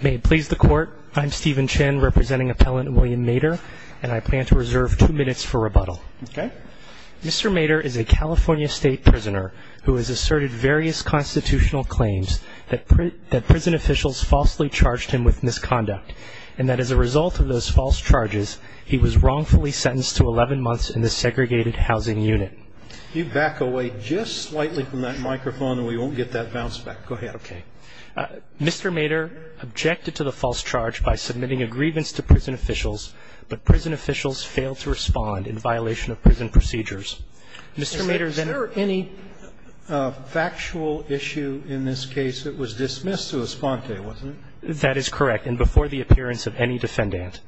May it please the Court, I'm Stephen Chin representing Appellant William Meador, and I plan to reserve two minutes for rebuttal. Mr. Meador is a California State Prisoner who has asserted various constitutional claims that prison officials falsely charged him with misconduct, and that as a result of those false charges, he was wrongfully sentenced to 11 months in the segregated housing unit. You back away just slightly from that microphone, and we won't get that bounce back. Go ahead. Okay. Mr. Meador objected to the false charge by submitting a grievance to prison officials, but prison officials failed to respond in violation of prison procedures. Mr. Meador then... Is there any factual issue in this case that was dismissed to esponte, wasn't it? That is correct, and before the appearance of any defendant.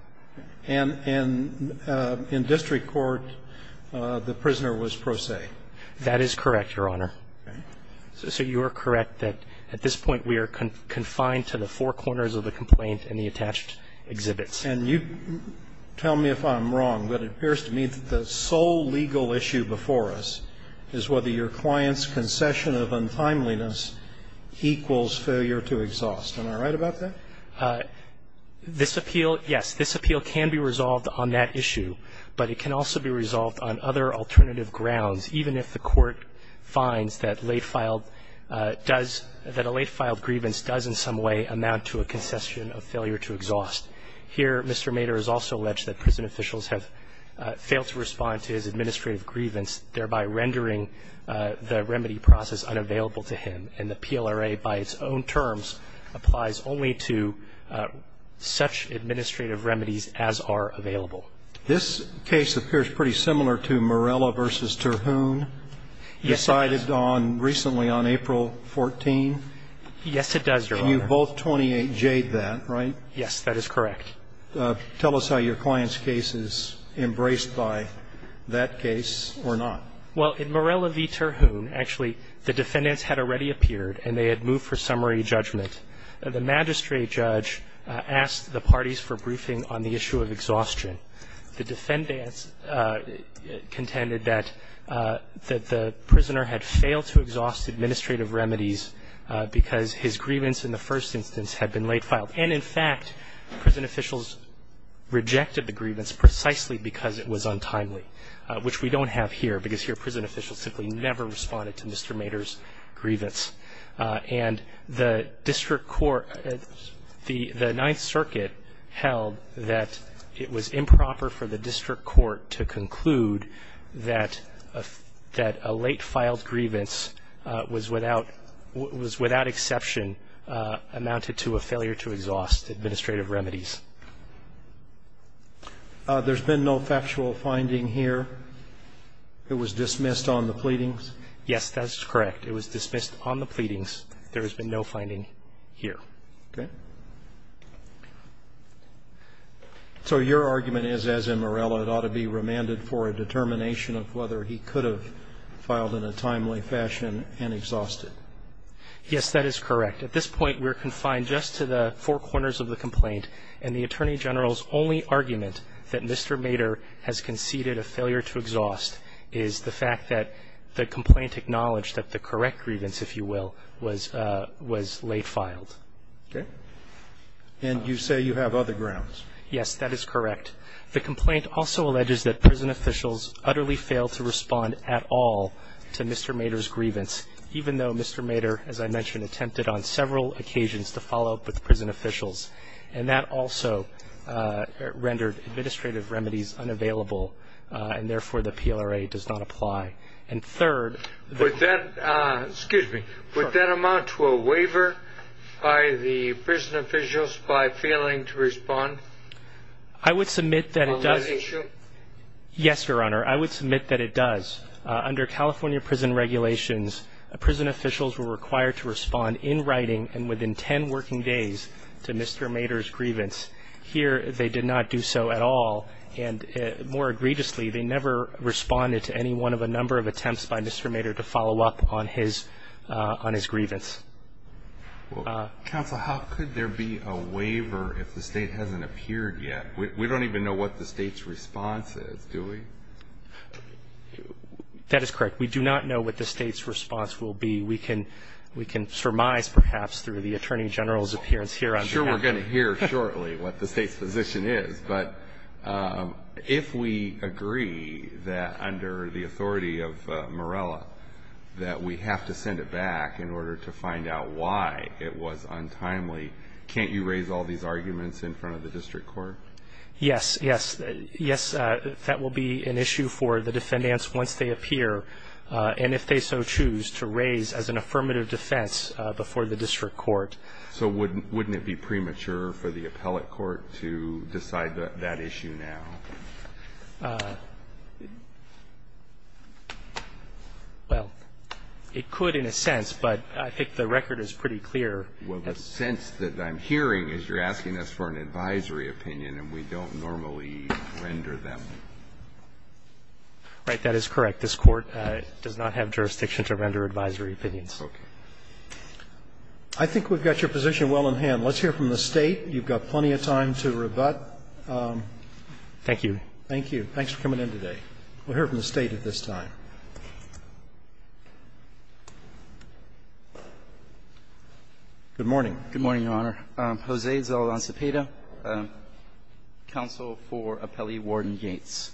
And in district court, the prisoner was pro se? That is correct, Your Honor. Okay. So you are correct that at this point we are confined to the four corners of the complaint and the attached exhibits. And you tell me if I'm wrong, but it appears to me that the sole legal issue before us is whether your client's concession of untimeliness equals failure to exhaust. Am I right about that? This appeal, yes, this appeal can be resolved on that issue, but it can also be resolved on other alternative grounds, even if the court finds that late-filed does, that a late-filed grievance does in some way amount to a concession of failure to exhaust. Here, Mr. Meador has also alleged that prison officials have failed to respond to his administrative grievance, thereby rendering the remedy process unavailable to him. And the PLRA by its own terms applies only to such administrative remedies as are available. This case appears pretty similar to Morella v. Terhune. Yes, it does. Decided on recently on April 14th. Yes, it does, Your Honor. And you both 28-J'd that, right? Yes, that is correct. Tell us how your client's case is embraced by that case or not. Well, in Morella v. Terhune, actually, the defendants had already appeared and they had moved for summary judgment. The magistrate judge asked the parties for briefing on the issue of exhaustion. The defendants contended that the prisoner had failed to exhaust administrative remedies because his grievance in the first instance had been late-filed. And, in fact, prison officials rejected the grievance precisely because it was untimely, which we don't have here because here prison officials simply never responded to Mr. Mater's grievance. And the district court at the Ninth Circuit held that it was improper for the district court to conclude that a late-filed grievance was without exception amounted to a failure to exhaust administrative remedies. There's been no factual finding here. It was dismissed on the pleadings? Yes, that is correct. It was dismissed on the pleadings. There has been no finding here. Okay. So your argument is, as in Morella, it ought to be remanded for a determination of whether he could have filed in a timely fashion and exhausted. Yes, that is correct. At this point, we're confined just to the four corners of the complaint, and the Attorney General's only argument that Mr. Mater has conceded a failure to exhaust is the fact that the complaint acknowledged that the correct grievance, if you will, was late-filed. Okay. And you say you have other grounds. Yes, that is correct. The complaint also alleges that prison officials utterly failed to respond at all to Mr. Mater, as I mentioned, attempted on several occasions to follow up with prison officials, and that also rendered administrative remedies unavailable, and therefore, the PLRA does not apply. And third — Excuse me. Would that amount to a waiver by the prison officials by failing to respond? I would submit that it does. On that issue? Yes, Your Honor. I would submit that it does. Under California prison regulations, prison officials were required to respond in writing and within ten working days to Mr. Mater's grievance. Here, they did not do so at all, and more egregiously, they never responded to any one of a number of attempts by Mr. Mater to follow up on his grievance. Counsel, how could there be a waiver if the State hasn't appeared yet? We don't even know what the State's response is, do we? That is correct. We do not know what the State's response will be. We can surmise, perhaps, through the Attorney General's appearance here on behalf. I'm sure we're going to hear shortly what the State's position is, but if we agree that under the authority of Morella that we have to send it back in order to find out why it was untimely, can't you raise all these arguments in front of the district court? Yes. Yes. Yes, that will be an issue for the defendants once they appear, and if they so choose, to raise as an affirmative defense before the district court. So wouldn't it be premature for the appellate court to decide that issue now? Well, it could in a sense, but I think the record is pretty clear. Well, the sense that I'm hearing is you're asking us for an advisory opinion, and we don't normally render them. Right. That is correct. This Court does not have jurisdiction to render advisory opinions. Okay. I think we've got your position well in hand. Let's hear from the State. You've got plenty of time to rebut. Thank you. Thank you. Thanks for coming in today. We'll hear from the State at this time. Good morning. Good morning, Your Honor. Jose Zaldan Cepeda, counsel for Appellee Warden Yates.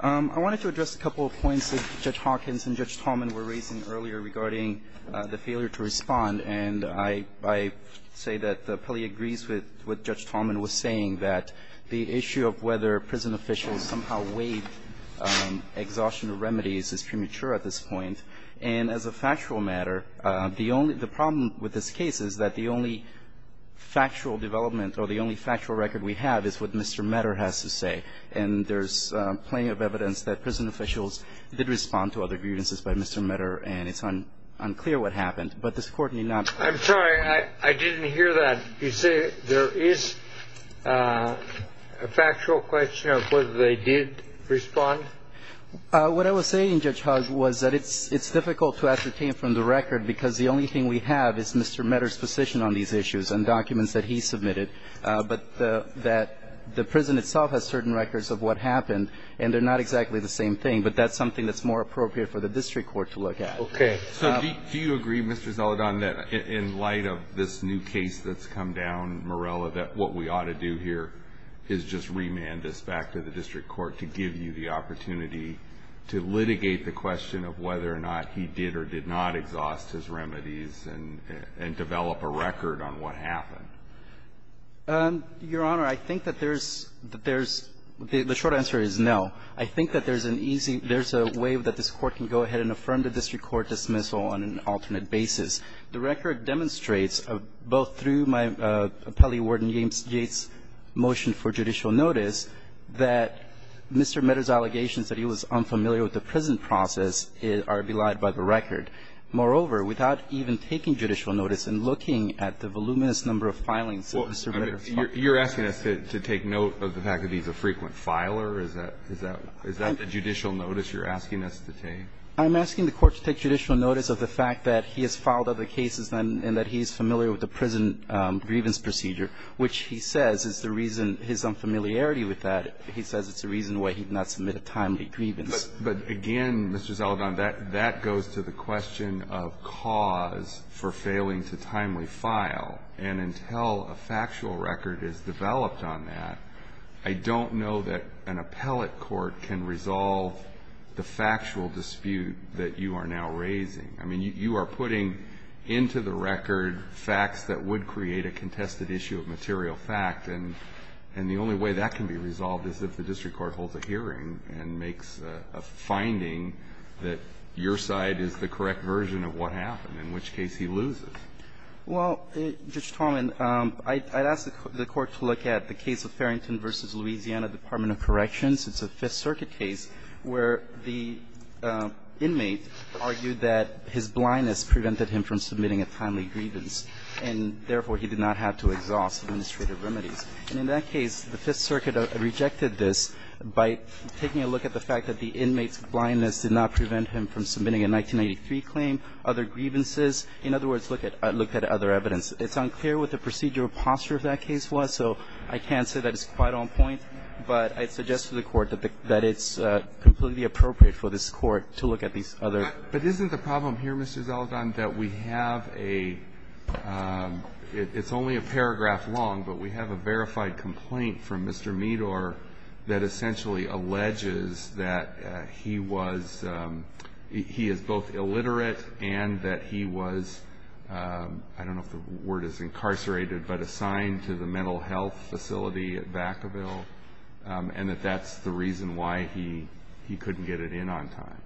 I wanted to address a couple of points that Judge Hawkins and Judge Tallman were raising earlier regarding the failure to respond, and I say that the appellee agrees with what Judge Tallman was saying, that the issue of whether prison officials somehow waived exhaustion of remedies is premature at this point. And as a factual matter, the only the problem with this case is that the only factual development or the only factual record we have is what Mr. Medder has to say. And there's plenty of evidence that prison officials did respond to other grievances by Mr. Medder, and it's unclear what happened. But this Court may not. I'm sorry. I didn't hear that. You say there is a factual question of whether they did respond? What I was saying, Judge Hawkins, was that it's difficult to ascertain from the record because the only thing we have is Mr. Medder's position on these issues and documents that he submitted, but that the prison itself has certain records of what happened and they're not exactly the same thing, but that's something that's more appropriate for the district court to look at. Okay. So do you agree, Mr. Zaldan, that in light of this new case that's come down, Morella, that what we ought to do here is just remand this back to the district court to give you the opportunity to litigate the question of whether or not he did or did not exhaust his remedies and develop a record on what happened? Your Honor, I think that there's the short answer is no. I think that there's an easy – there's a way that this Court can go ahead and affirm the district court dismissal on an alternate basis. The record demonstrates both through my appellee, Warden James Yates' motion for judicial notice that Mr. Medder's allegations that he was unfamiliar with the prison process are belied by the record. Moreover, without even taking judicial notice and looking at the voluminous number of filings that Mr. Medder filed. You're asking us to take note of the fact that he's a frequent filer? Is that the judicial notice you're asking us to take? I'm asking the Court to take judicial notice of the fact that he has filed other cases and that he's familiar with the prison grievance procedure, which he says is the reason – his unfamiliarity with that. He says it's the reason why he did not submit a timely grievance. But again, Mr. Zeldin, that goes to the question of cause for failing to timely file, and until a factual record is developed on that, I don't know that an appellate court can resolve the factual dispute that you are now raising. I mean, you are putting into the record facts that would create a contested issue of material fact, and the only way that can be resolved is if the district court holds a hearing and makes a finding that your side is the correct version of what happened, in which case he loses. Well, Judge Talman, I'd ask the Court to look at the case of Farrington v. Louisiana Department of Corrections. It's a Fifth Circuit case where the inmate argued that his blindness prevented him from submitting a timely grievance, and therefore, he did not have to exhaust administrative remedies. And in that case, the Fifth Circuit rejected this by taking a look at the fact that the inmate's blindness did not prevent him from submitting a 1983 claim, other grievances. In other words, looked at other evidence. It's unclear what the procedural posture of that case was, so I can't say that it's quite on point, but I'd suggest to the Court that it's completely appropriate for this Court to look at these other. But isn't the problem here, Mr. Zeldon, that we have a – it's only a paragraph long, but we have a verified complaint from Mr. Medor that essentially alleges that he was – he is both illiterate and that he was – I don't know if the word is incarcerated, but assigned to the mental health facility at Vacaville, and that that's the reason why he couldn't get it in on time?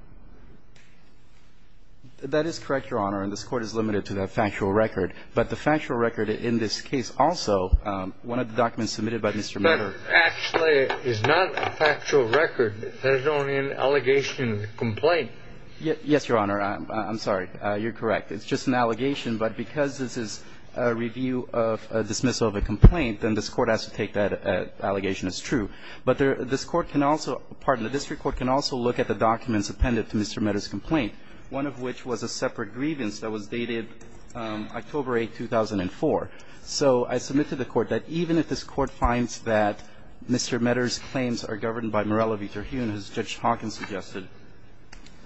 That is correct, Your Honor, and this Court is limited to the factual record. But the factual record in this case also – one of the documents submitted by Mr. Medor – But actually, it's not a factual record. There's only an allegation complaint. Yes, Your Honor. I'm sorry. You're correct. It's just an allegation, but because this is a review of a dismissal of a complaint, then this Court has to take that allegation as true. But this Court can also – pardon me. This Court can also look at the documents appended to Mr. Medor's complaint, one of which was a separate grievance that was dated October 8, 2004. So I submit to the Court that even if this Court finds that Mr. Medor's claims are governed by Morello v. Terhune, as Judge Hawkins suggested,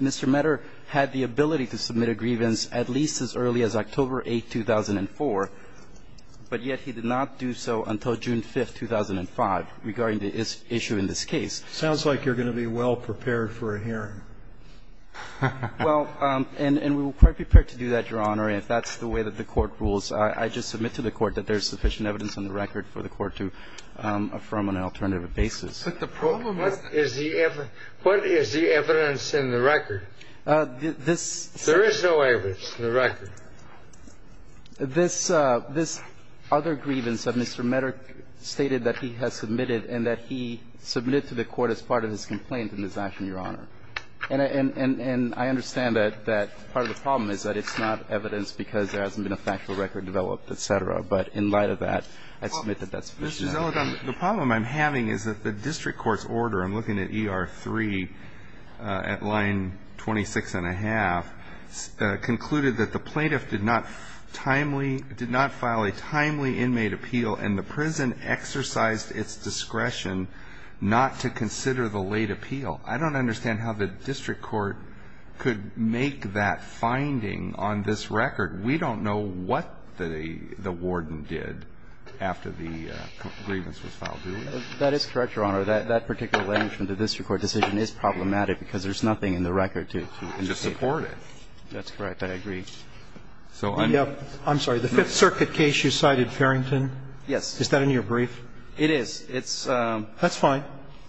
Mr. Medor had the ability to submit a grievance at least as early as October 8, 2004, but yet he did not do so until June 5, 2005, regarding the issue in this case. Sounds like you're going to be well-prepared for a hearing. Well, and we were quite prepared to do that, Your Honor, if that's the way that the Court rules. I just submit to the Court that there's sufficient evidence on the record for the Court to affirm on an alternative basis. But the problem is the evidence. There is no evidence in the record. This – this other grievance of Mr. Medor stated that he has submitted and that he submitted to the Court as part of his complaint and his action, Your Honor. And I understand that part of the problem is that it's not evidence because there hasn't been a factual record developed, et cetera. But in light of that, I submit that that's sufficient evidence. Well, Justice Alito, the problem I'm having is that the district court's order, I'm looking at ER 3 at line 26 and a half, concluded that the plaintiff did not timely – did not file a timely inmate appeal and the prison exercised its discretion not to consider the late appeal. I don't understand how the district court could make that finding on this record. We don't know what the warden did after the grievance was filed, do we? That is correct, Your Honor. That particular language from the district court decision is problematic because there's nothing in the record to indicate that. To support it. That's correct. I agree. So I'm – I'm sorry. The Fifth Circuit case you cited, Farrington? Yes. Is that in your brief? It is. It's – That's fine.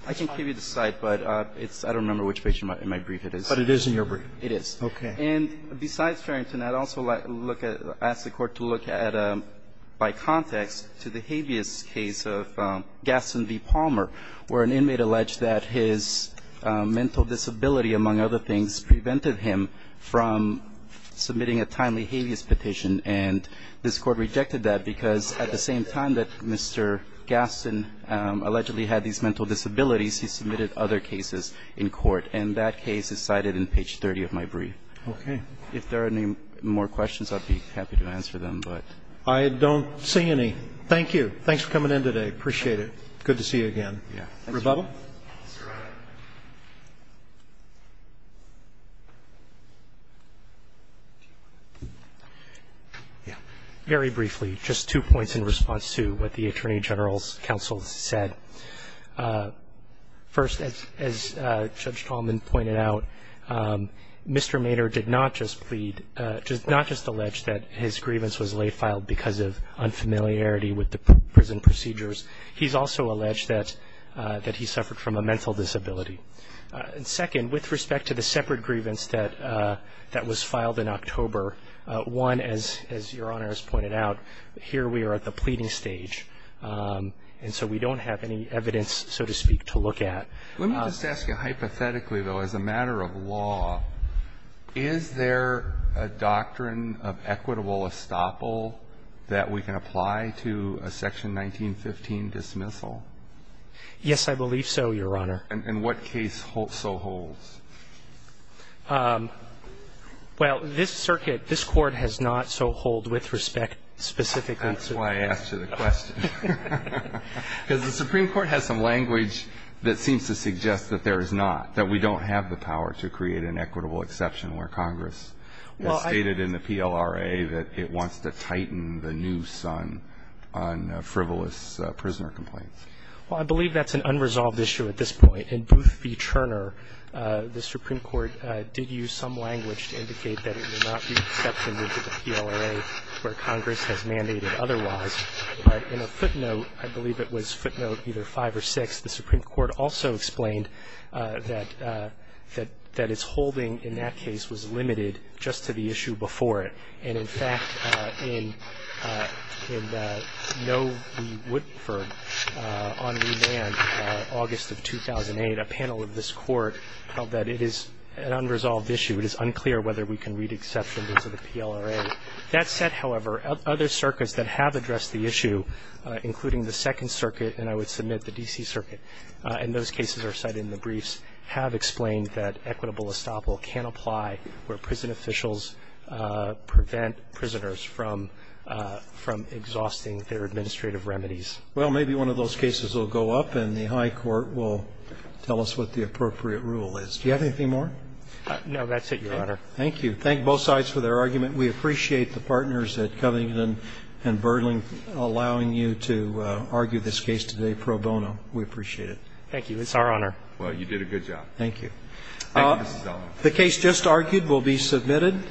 I can give you the site, but it's – I don't remember which page in my brief it is. But it is in your brief. It is. And besides Farrington, I'd also like to look at – ask the Court to look at, by context, to the habeas case of Gaston v. Palmer, where an inmate alleged that his mental disability, among other things, prevented him from submitting a timely habeas petition. And this Court rejected that because at the same time that Mr. Gaston allegedly had these mental disabilities, he submitted other cases in court. And that case is cited in page 30 of my brief. Okay. If there are any more questions, I'd be happy to answer them. I don't see any. Thank you. Thanks for coming in today. Appreciate it. Good to see you again. Rebuttal? Very briefly, just two points in response to what the Attorney General's counsel said. First, as Judge Tallman pointed out, Mr. Mader did not just plead – not just allege that his grievance was late filed because of unfamiliarity with the prison procedures. He's also alleged that he suffered from a mental disability. And second, with respect to the separate grievance that was filed in October, one, as Your Honor has pointed out, here we are at the pleading stage. And so we don't have any evidence, so to speak, to look at. Let me just ask you, hypothetically, though, as a matter of law, is there a doctrine of equitable estoppel that we can apply to a Section 1915 dismissal? Yes, I believe so, Your Honor. And what case so holds? Well, this circuit, this Court has not so hold with respect specifically to – That's why I asked you the question. Because the Supreme Court has some language that seems to suggest that there is not, that we don't have the power to create an equitable exception where Congress has stated in the PLRA that it wants to tighten the noose on frivolous prisoner complaints. Well, I believe that's an unresolved issue at this point. In Booth v. Turner, the Supreme Court did use some language to indicate that it would not be an exception with the PLRA where Congress has mandated otherwise. But in a footnote, I believe it was footnote either 5 or 6, the Supreme Court also explained that its holding in that case was limited just to the issue before it. And, in fact, in Noe v. Woodford on remand, August of 2008, a panel of this Court held that it is an unresolved issue. It is unclear whether we can read exception into the PLRA. That said, however, other circuits that have addressed the issue, including the Second Circuit, and I would submit the D.C. Circuit, and those cases are cited in the briefs, have explained that equitable estoppel can apply where prison officials prevent prisoners from exhausting their administrative remedies. Well, maybe one of those cases will go up and the high court will tell us what the appropriate rule is. Do you have anything more? No, that's it, Your Honor. Thank you. Thank both sides for their argument. We appreciate the partners at Covington and Burling allowing you to argue this case today pro bono. We appreciate it. Thank you. It's our honor. Well, you did a good job. Thank you. The case just argued will be submitted.